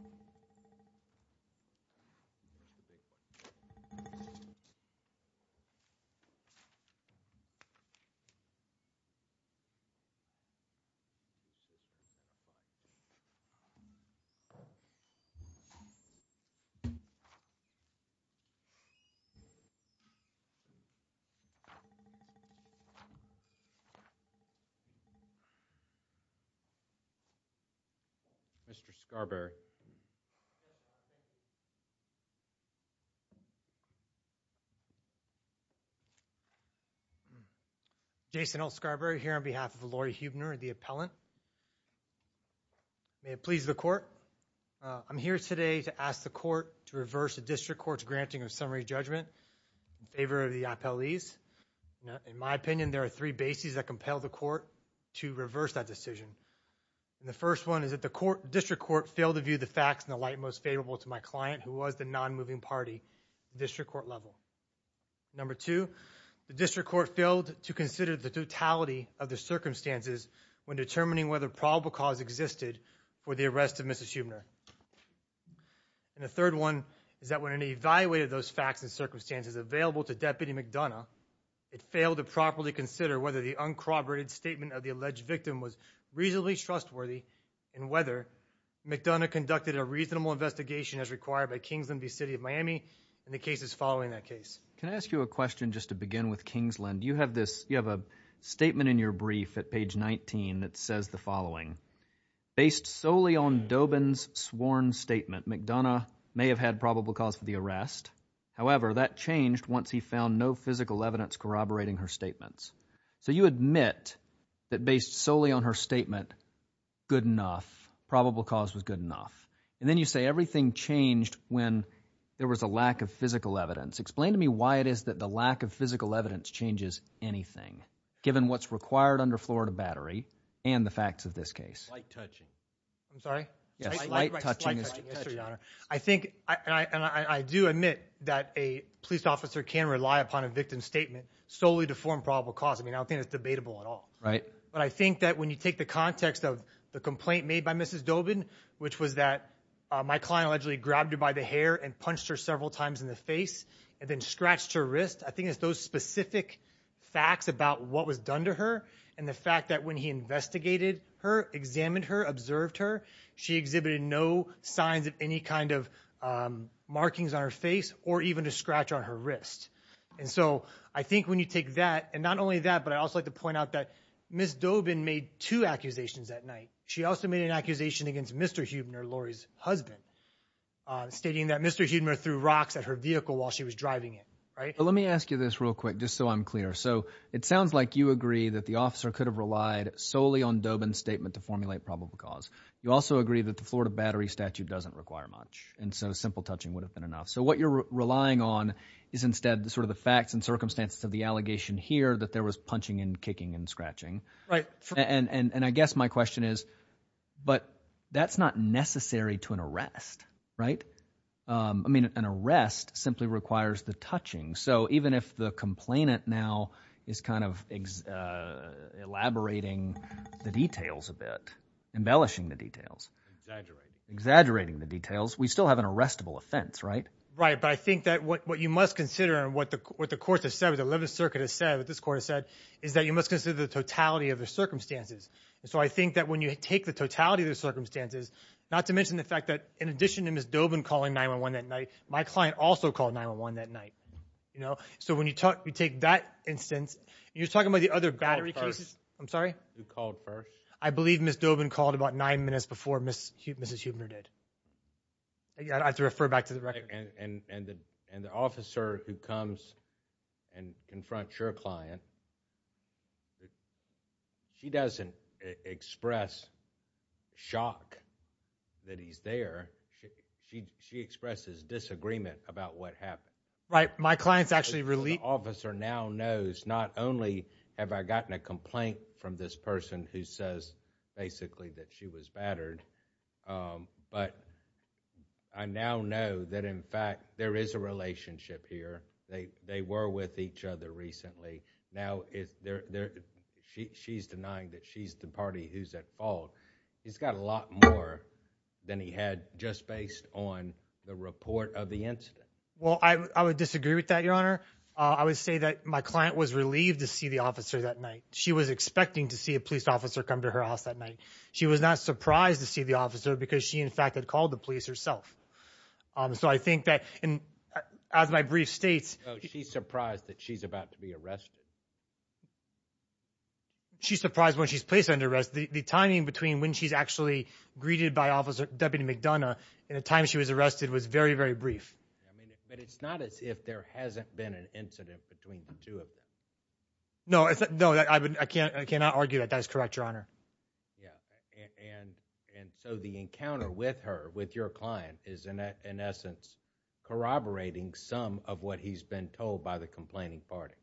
The President Mr. Scarberry. Mr. Scarberry, on behalf of the Laurie Huebner and the appellant, may it please the court, I'm here today to ask the court to reverse the district court's granting of summary judgment in favor of the I-PEL-E's. In my opinion, there are three bases that compel the court to reverse that decision. The first one is that the district court failed to view the facts in the light most favorable to my client, who was the non-moving party at the district court level. Number two, the district court failed to consider the totality of the circumstances when determining whether probable cause existed for the arrest of Mrs. Huebner. The third one is that when it evaluated those facts and circumstances available to Deputy McDonough, it failed to properly consider whether the uncorroborated statement of the defendant was reasonably trustworthy in whether McDonough conducted a reasonable investigation as required by Kingsland v. City of Miami and the cases following that case. Can I ask you a question just to begin with Kingsland? You have this, you have a statement in your brief at page 19 that says the following. Based solely on Dobin's sworn statement, McDonough may have had probable cause for the arrest. However, that changed once he found no physical evidence corroborating her statements. So you admit that based solely on her statement, good enough, probable cause was good enough. And then you say everything changed when there was a lack of physical evidence. Explain to me why it is that the lack of physical evidence changes anything, given what's required under Florida Battery and the facts of this case. Light touching. I'm sorry? Yes, light touching. Light touching. Yes, Your Honor. I think, and I do admit that a police officer can rely upon a victim's statement solely to form probable cause. I mean, I don't think it's debatable at all. Right. But I think that when you take the context of the complaint made by Mrs. Dobin, which was that my client allegedly grabbed her by the hair and punched her several times in the face and then scratched her wrist. I think it's those specific facts about what was done to her and the fact that when he investigated her, examined her, observed her, she exhibited no signs of any kind of markings on her face or even a scratch on her wrist. And so I think when you take that and not only that, but I also like to point out that Ms. Dobin made two accusations that night. She also made an accusation against Mr. Huebner, Lori's husband, stating that Mr. Huebner threw rocks at her vehicle while she was driving it. Right. But let me ask you this real quick, just so I'm clear. So it sounds like you agree that the officer could have relied solely on Dobin's statement to formulate probable cause. You also agree that the Florida Battery statute doesn't require much. And so simple touching would have been enough. So what you're relying on is instead sort of the facts and circumstances of the allegation here that there was punching and kicking and scratching. And I guess my question is, but that's not necessary to an arrest. Right. I mean, an arrest simply requires the touching. So even if the complainant now is kind of elaborating the details a bit, embellishing the details, exaggerating the details, we still have an arrestable offense, right? Right. But I think that what you must consider and what the court has said, what the 11th Circuit has said, what this court has said, is that you must consider the totality of the circumstances. So I think that when you take the totality of the circumstances, not to mention the fact that in addition to Ms. Dobin calling 911 that night, my client also called 911 that night. You know, so when you talk, you take that instance, you're talking about the other battery cases. I'm sorry. You called first. I believe Ms. Dobin called about nine minutes before Mrs. Huebner did. I'd have to refer back to the record. And the officer who comes and confronts your client, she doesn't express shock that he's there. She expresses disagreement about what happened. Right. My client's actually relieved. The officer now knows not only have I gotten a complaint from this person who says basically that she was battered, but I now know that in fact there is a relationship here. They were with each other recently. Now she's denying that she's the party who's at fault. He's got a lot more than he had just based on the report of the incident. Well, I would disagree with that, Your Honor. I would say that my client was relieved to see the officer that night. She was expecting to see a police officer come to her house that night. She was not surprised to see the officer because she in fact had called the police herself. So I think that as my brief states, she's surprised that she's about to be arrested. She's surprised when she's placed under arrest, the timing between when she's actually greeted by officer Deputy McDonough and the time she was arrested was very, very brief. I mean, but it's not as if there hasn't been an incident between the two of them. No. No, I can't. I cannot argue that. That is correct, Your Honor. Yeah. And so the encounter with her, with your client is in essence corroborating some of what he's been told by the complaining party.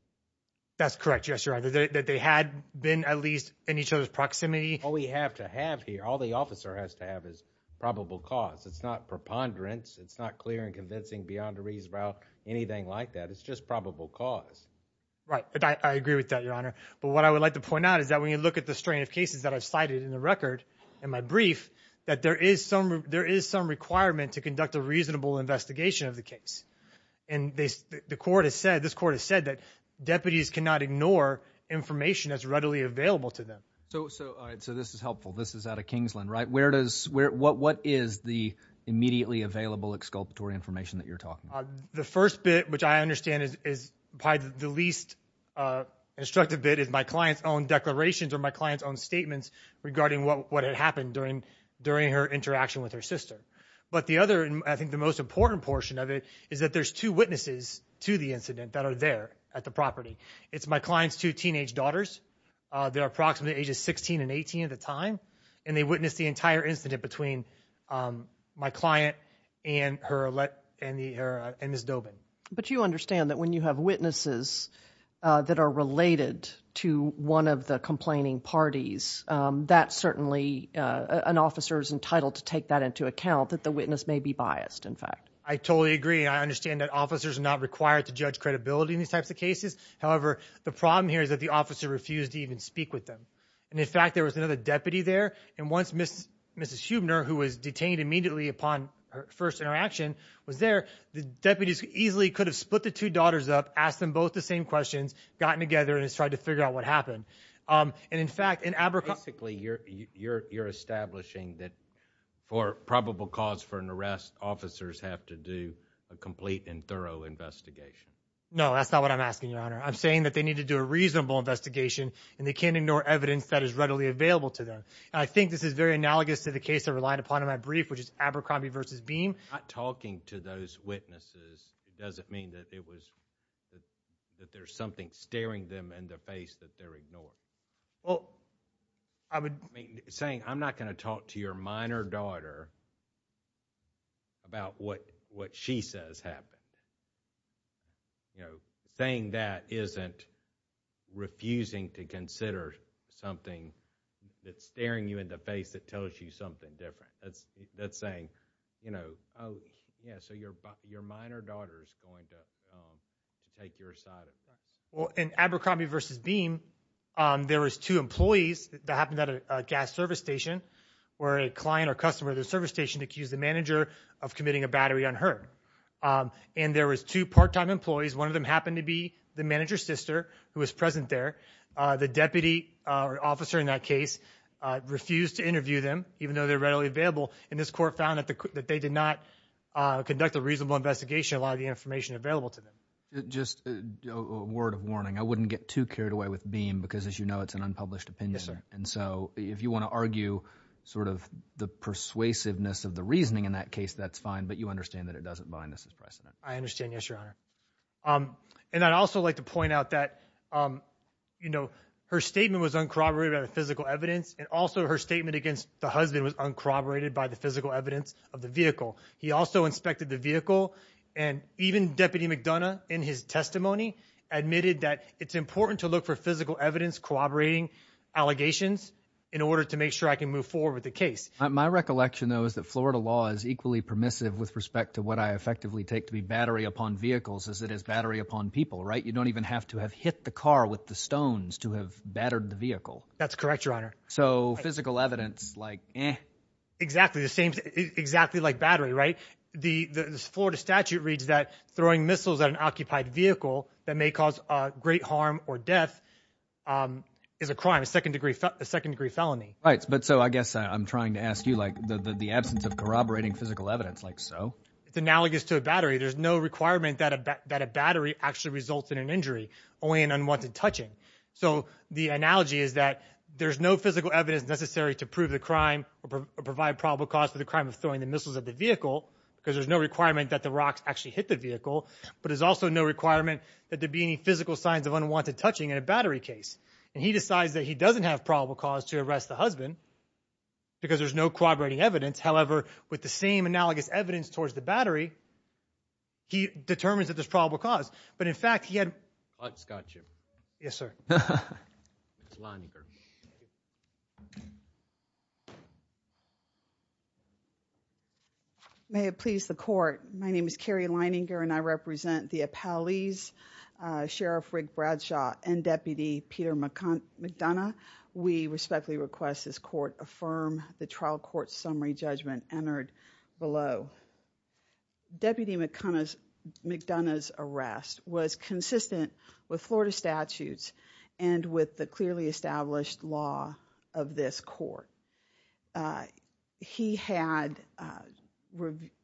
That's correct. Yes, Your Honor. That they had been at least in each other's proximity. All we have to have here, all the officer has to have is probable cause. It's not preponderance. It's not clear and convincing beyond a reason about anything like that. It's just probable cause. Right. I agree with that, Your Honor. But what I would like to point out is that when you look at the strain of cases that I've cited in the record and my brief, that there is some requirement to conduct a reasonable investigation of the case. And the court has said, this court has said that deputies cannot ignore information that's readily available to them. So, all right. So this is helpful. This is out of Kingsland, right? Where does, what is the immediately available exculpatory information that you're talking about? The first bit, which I understand is probably the least instructive bit, is my client's own declarations or my client's own statements regarding what had happened during her interaction with her sister. But the other, and I think the most important portion of it, is that there's two witnesses to the incident that are there at the property. It's my client's two teenage daughters that are approximately ages 16 and 18 at the time, and they witnessed the entire incident between my client and her, and Ms. Dobin. But you understand that when you have witnesses that are related to one of the complaining parties, that certainly an officer is entitled to take that into account, that the witness may be biased, in fact. I totally agree. I understand that officers are not required to judge credibility in these types of cases. However, the problem here is that the officer refused to even speak with them. And in fact, there was another deputy there, and once Mrs. Huebner, who was detained immediately upon her first interaction, was there, the deputies easily could have split the two daughters up, asked them both the same questions, gotten together, and just tried to figure out what happened. And in fact, in Abercrombie- Basically, you're establishing that for probable cause for an arrest, officers have to do a complete and thorough investigation. No, that's not what I'm asking, Your Honor. I'm saying that they need to do a reasonable investigation, and they can't ignore evidence that is readily available to them. I think this is very analogous to the case I relied upon in my brief, which is Abercrombie versus Beam. Not talking to those witnesses doesn't mean that it was, that there's something staring them in the face that they're ignoring. Well, I would- I mean, saying, I'm not going to talk to your minor daughter about what she says happened. Saying that isn't refusing to consider something that's staring you in the face that tells you something different. That's saying, you know, oh, yeah, so your minor daughter's going to take your side. Well, in Abercrombie versus Beam, there was two employees that happened at a gas service station where a client or customer of the service station accused the manager of committing a battery unheard. And there was two part-time employees. One of them happened to be the manager's sister who was present there. The deputy officer in that case refused to interview them, even though they're readily available. And this court found that they did not conduct a reasonable investigation, a lot of the information available to them. Just a word of warning, I wouldn't get too carried away with Beam because, as you know, it's an unpublished opinion. Yes, sir. And so, if you want to argue sort of the persuasiveness of the reasoning in that case, that's fine. But you understand that it doesn't bind us as precedent. I understand. Yes, Your Honor. And I'd also like to point out that, you know, her statement was uncorroborated by the physical evidence. And also, her statement against the husband was uncorroborated by the physical evidence of the vehicle. He also inspected the vehicle, and even Deputy McDonough, in his testimony, admitted that it's important to look for physical evidence corroborating allegations in order to make sure I can move forward with the case. My recollection, though, is that Florida law is equally permissive with respect to what I effectively take to be battery upon vehicles as it is battery upon people, right? You don't even have to have hit the car with the stones to have battered the vehicle. That's correct, Your Honor. So, physical evidence, like, eh. Exactly the same, exactly like battery, right? The Florida statute reads that throwing missiles at an occupied vehicle that may cause great harm or death is a crime, a second-degree felony. Right, but so I guess I'm trying to ask you, like, the absence of corroborating physical evidence, like so? It's analogous to a battery. There's no requirement that a battery actually results in an injury, only an unwanted touching. So, the analogy is that there's no physical evidence necessary to prove the crime or provide probable cause for the crime of throwing the missiles at the vehicle because there's no requirement that the rocks actually hit the vehicle, but there's also no requirement that there be any physical signs of unwanted touching in a battery case. And he decides that he doesn't have probable cause to arrest the husband because there's no corroborating evidence. However, with the same analogous evidence towards the battery, he determines that there's probable cause. But in fact, he had- Scott, Jim. Yes, sir. Lininger. May it please the court, my name is Carrie Lininger and I represent the appellees, Sheriff Rick Bradshaw and Deputy Peter McDonough. We respectfully request this court affirm the trial court summary judgment entered below. Deputy McDonough's arrest was consistent with Florida statutes and with the clearly established law of this court. He had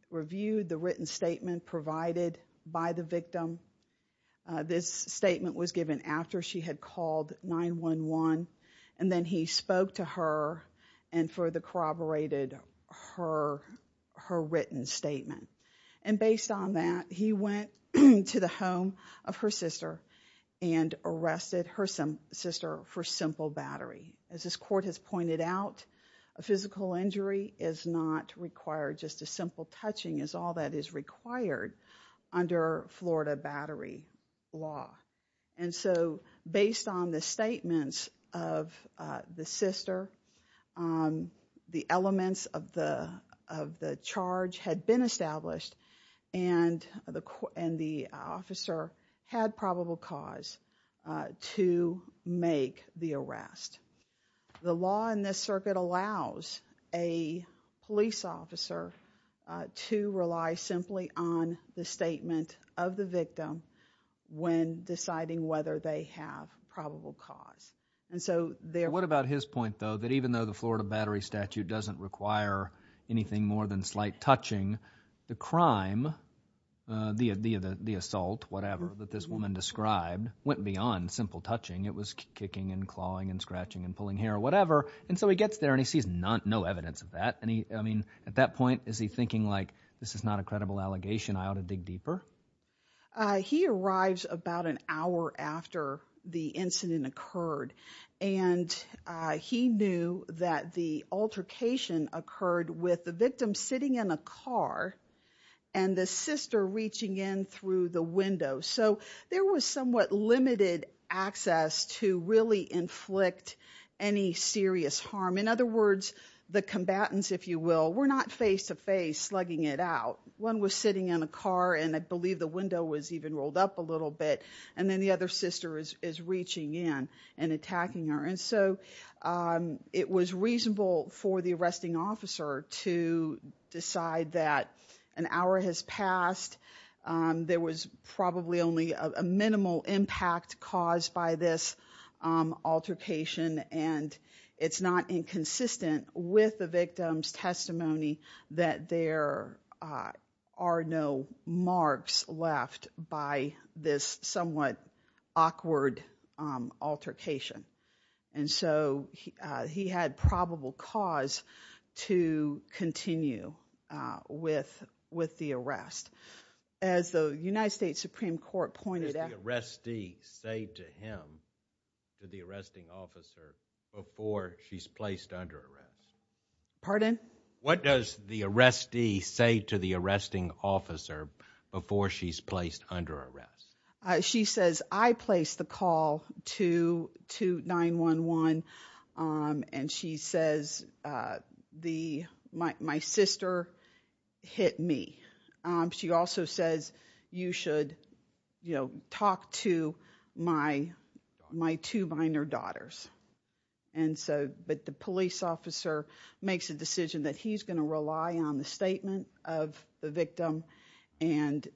reviewed the written statement provided by the victim. This statement was given after she had called 911 and then he spoke to her and further corroborated her written statement. And based on that, he went to the home of her sister and arrested her sister for simple battery. As this court has pointed out, a physical injury is not required. Just a simple touching is all that is required under Florida battery law. And so, based on the statements of the sister, the elements of the charge had been established and the officer had probable cause to make the arrest. The law in this circuit allows a police officer to rely simply on the statement of the victim when deciding whether they have probable cause. What about his point, though, that even though the Florida battery statute doesn't require anything more than slight touching, the crime, the assault, whatever, that this woman described went beyond simple touching. It was kicking and clawing and scratching and pulling hair, whatever. And so he gets there and he sees no evidence of that. At that point, is he thinking, like, this is not a credible allegation, I ought to dig deeper? He arrives about an hour after the incident occurred and he knew that the altercation occurred with the victim sitting in a car and the sister reaching in through the window. So there was somewhat limited access to really inflict any serious harm. In other words, the combatants, if you will, were not face-to-face slugging it out. One was sitting in a car and I believe the window was even rolled up a little bit and then the other sister is reaching in and attacking her. And so it was reasonable for the arresting officer to decide that an hour has passed. There was probably only a minimal impact caused by this altercation and it's not inconsistent with the victim's testimony that there are no marks left by this somewhat awkward altercation. And so he had probable cause to continue with the arrest. As the United States Supreme Court pointed out- What does the arrestee say to him, to the arresting officer, before she's placed under arrest? Pardon? What does the arrestee say to the arresting officer before she's placed under arrest? She says, I placed the call to 9-1-1 and she says, my sister hit me. She also says, you should talk to my two minor daughters. And so, but the police officer makes a decision that he's gonna rely on the statement of the victim and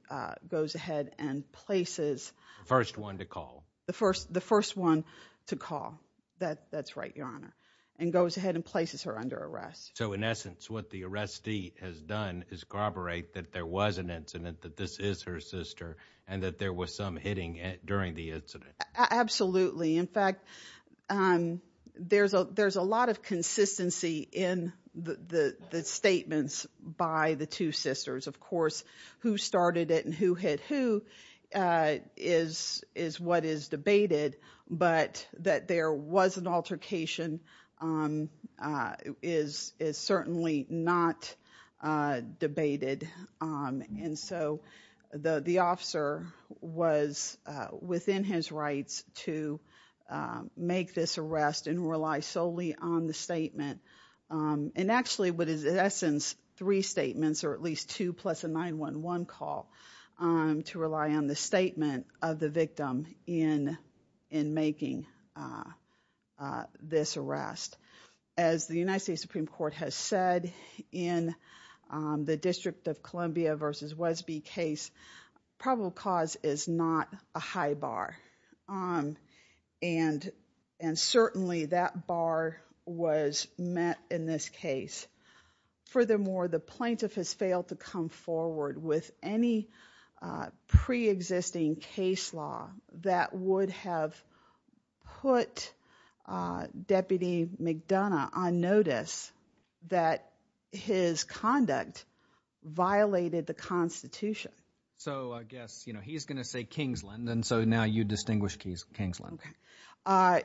goes ahead and places- First one to call. The first one to call, that's right, your honor, and goes ahead and places her under arrest. So in essence, what the arrestee has done is corroborate that there was an incident, that this is her sister, and that there was some hitting during the incident. Absolutely. In fact, there's a lot of consistency in the statements by the two sisters. Of course, who started it and who hit who is what is debated. But that there was an altercation is certainly not debated. And so, the officer was within his rights to make this arrest and rely solely on the statement. And actually, what is in essence, three statements, or at least two plus a 9-1-1 call, to rely on the statement of the victim in making this arrest. As the United States Supreme Court has said in the District of Columbia versus Wesby case, probable cause is not a high bar. And certainly, that bar was met in this case. Furthermore, the plaintiff has failed to come forward with any pre-existing case law that would have put Deputy McDonough on notice that his conduct violated the Constitution. So I guess, he's going to say Kingsland, and so now you distinguish Kingsland. Okay.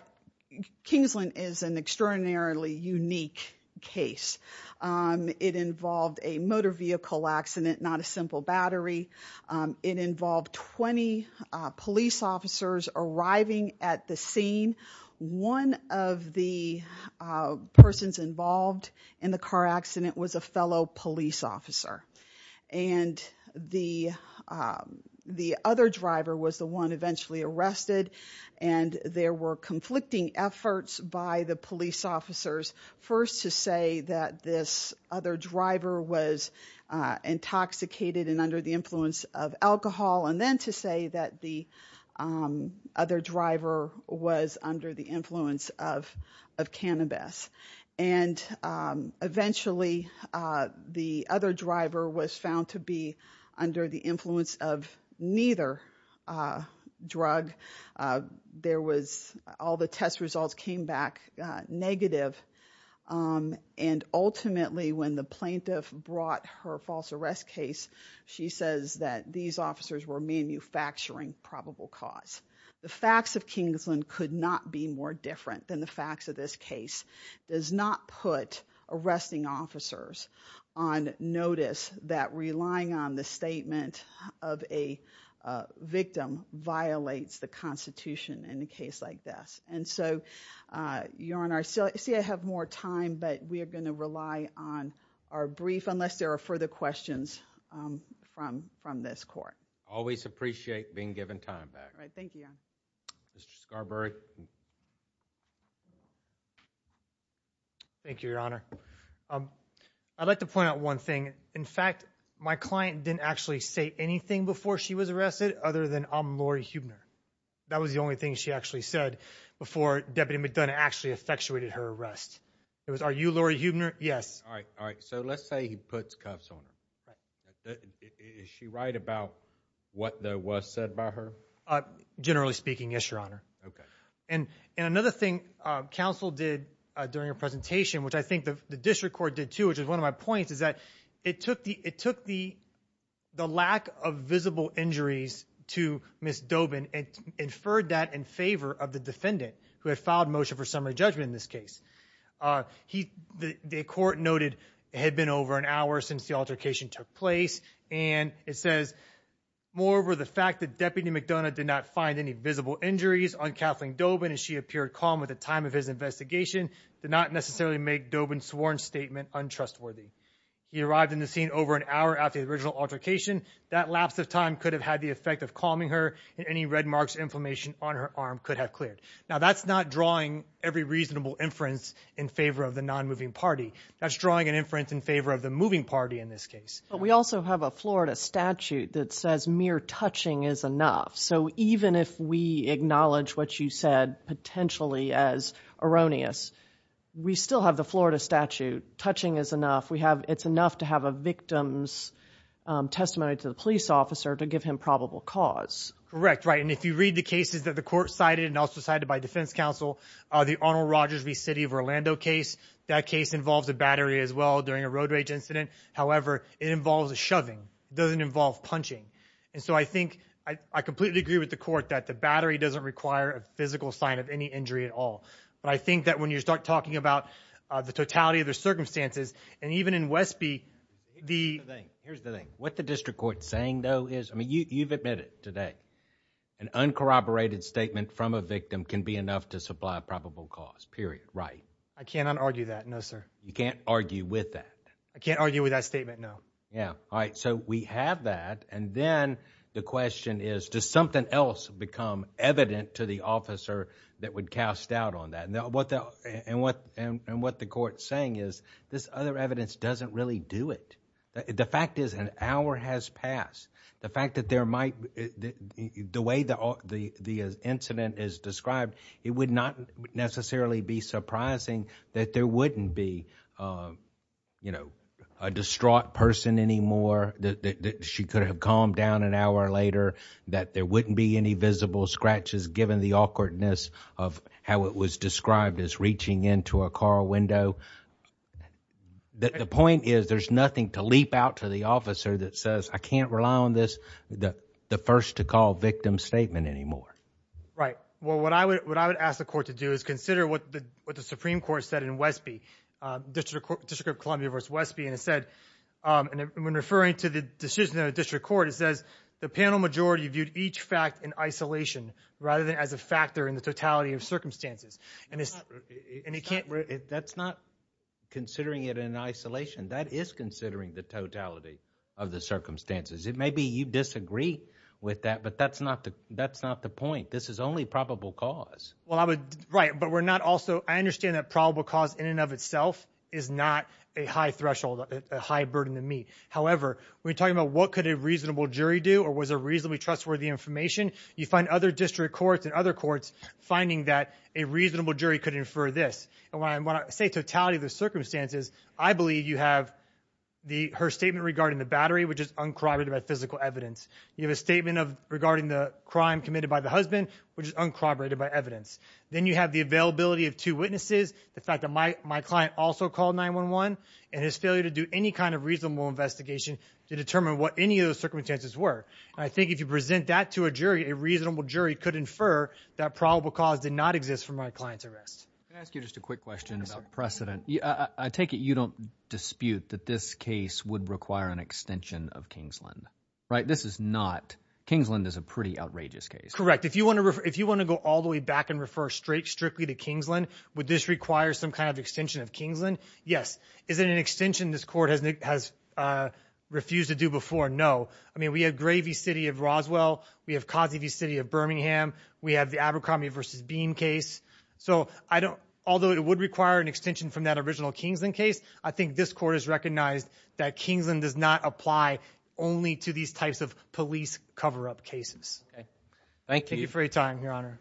Kingsland is an extraordinarily unique case. It involved a motor vehicle accident, not a simple battery. It involved 20 police officers arriving at the scene. One of the persons involved in the car accident was a fellow police officer. And the other driver was the one eventually arrested. And there were conflicting efforts by the police officers, first to say that this other driver was intoxicated and under the influence of alcohol, and then to say that the other driver was under the influence of cannabis. And eventually, the other driver was found to be under the influence of neither drug. There was, all the test results came back negative. And ultimately, when the plaintiff brought her false arrest case, she says that these officers were manufacturing probable cause. The facts of Kingsland could not be more different than the facts of this case. Does not put arresting officers on notice that relying on the statement of a victim violates the Constitution in a case like this. And so, Your Honor, I see I have more time, but we are going to rely on our brief, unless there are further questions from this court. Always appreciate being given time back. All right, thank you. Mr. Scarberry. Thank you, Your Honor. I'd like to point out one thing. In fact, my client didn't actually say anything before she was arrested, other than, I'm Lori Huebner. That was the only thing she actually said before Deputy McDonough actually effectuated her arrest. It was, are you Lori Huebner? Yes. All right, all right. So let's say he puts cuffs on her. Is she right about what though was said by her? Generally speaking, yes, Your Honor. Okay. And another thing counsel did during her presentation, which I think the district court did too, which is one of my points, is that it took the lack of visible injuries to Ms. Dobin and inferred that in favor of the defendant who had filed motion for summary judgment in this case. The court noted it had been over an hour since the altercation took place. And it says, moreover the fact that Deputy McDonough did not find any visible injuries on Kathleen Dobin as she appeared calm at the time of his investigation, did not necessarily make Dobin's sworn statement untrustworthy. He arrived in the scene over an hour after the original altercation. That lapse of time could have had the effect of calming her and any red marks, inflammation on her arm could have cleared. Now that's not drawing every reasonable inference in favor of the non-moving party. That's drawing an inference in favor of the moving party in this case. But we also have a Florida statute that says mere touching is enough. So even if we acknowledge what you said potentially as erroneous, we still have the Florida statute, touching is enough. It's enough to have a victim's testimony to the police officer to give him probable cause. Correct, right, and if you read the cases that the court cited and also cited by defense counsel, the Arnold Rogers v. City of Orlando case, that case involves a battery as well during a road rage incident. However, it involves a shoving, doesn't involve punching. And so I think I completely agree with the court that the battery doesn't require a physical sign of any injury at all. But I think that when you start talking about the totality of the circumstances, and even in Westby, the- Here's the thing, what the district court's saying though is, I mean, you've admitted today, an uncorroborated statement from a victim can be enough to supply a probable cause, period, right? I cannot argue that, no sir. You can't argue with that? I can't argue with that statement, no. Yeah, all right, so we have that, and then the question is, does something else become evident to the officer that would cast doubt on that? And what the court's saying is, this other evidence doesn't really do it. The fact is, an hour has passed. The fact that there might, the way the incident is described, it would not necessarily be surprising that there wouldn't be a distraught person anymore, that she could have calmed down an hour later, that there wouldn't be any visible scratches given the awkwardness of how it was described as reaching into a car window. The point is, there's nothing to leap out to the officer that says, I can't rely on this, the first to call victim statement anymore. Right, well, what I would ask the court to do is consider what the Supreme Court said in Westby, District of Columbia v. Westby, and it said, and when referring to the decision of the district court, it says, the panel majority viewed each fact in isolation, rather than as a factor in the totality of circumstances. And it can't, that's not considering it in isolation. That is considering the totality of the circumstances. It may be you disagree with that, but that's not the point. This is only probable cause. Well, I would, right, but we're not also, I understand that probable cause in and of itself is not a high threshold, a high burden to meet. However, we're talking about what could a reasonable jury do, or was a reasonably trustworthy information. You find other district courts and other courts finding that a reasonable jury could infer this. And when I say totality of the circumstances, I believe you have her statement regarding the battery, which is uncorroborated by physical evidence. You have a statement regarding the crime committed by the husband, which is uncorroborated by evidence. Then you have the availability of two witnesses, the fact that my client also called 911, and his failure to do any kind of reasonable investigation to determine what any of those circumstances were. I think if you present that to a jury, a reasonable jury could infer that probable cause did not exist for my client's arrest. Can I ask you just a quick question about precedent? I take it you don't dispute that this case would require an extension of Kingsland. Right, this is not, Kingsland is a pretty outrageous case. Correct, if you wanna go all the way back and refer strictly to Kingsland, would this require some kind of extension of Kingsland? Yes, is it an extension this court has refused to do before? No, I mean, we have Gravy City of Roswell, we have Cosby City of Birmingham, we have the Abercrombie versus Beam case. So although it would require an extension from that original Kingsland case, I think this court has recognized that Kingsland does not apply only to these types of police cover-up cases. Thank you for your time, Your Honor.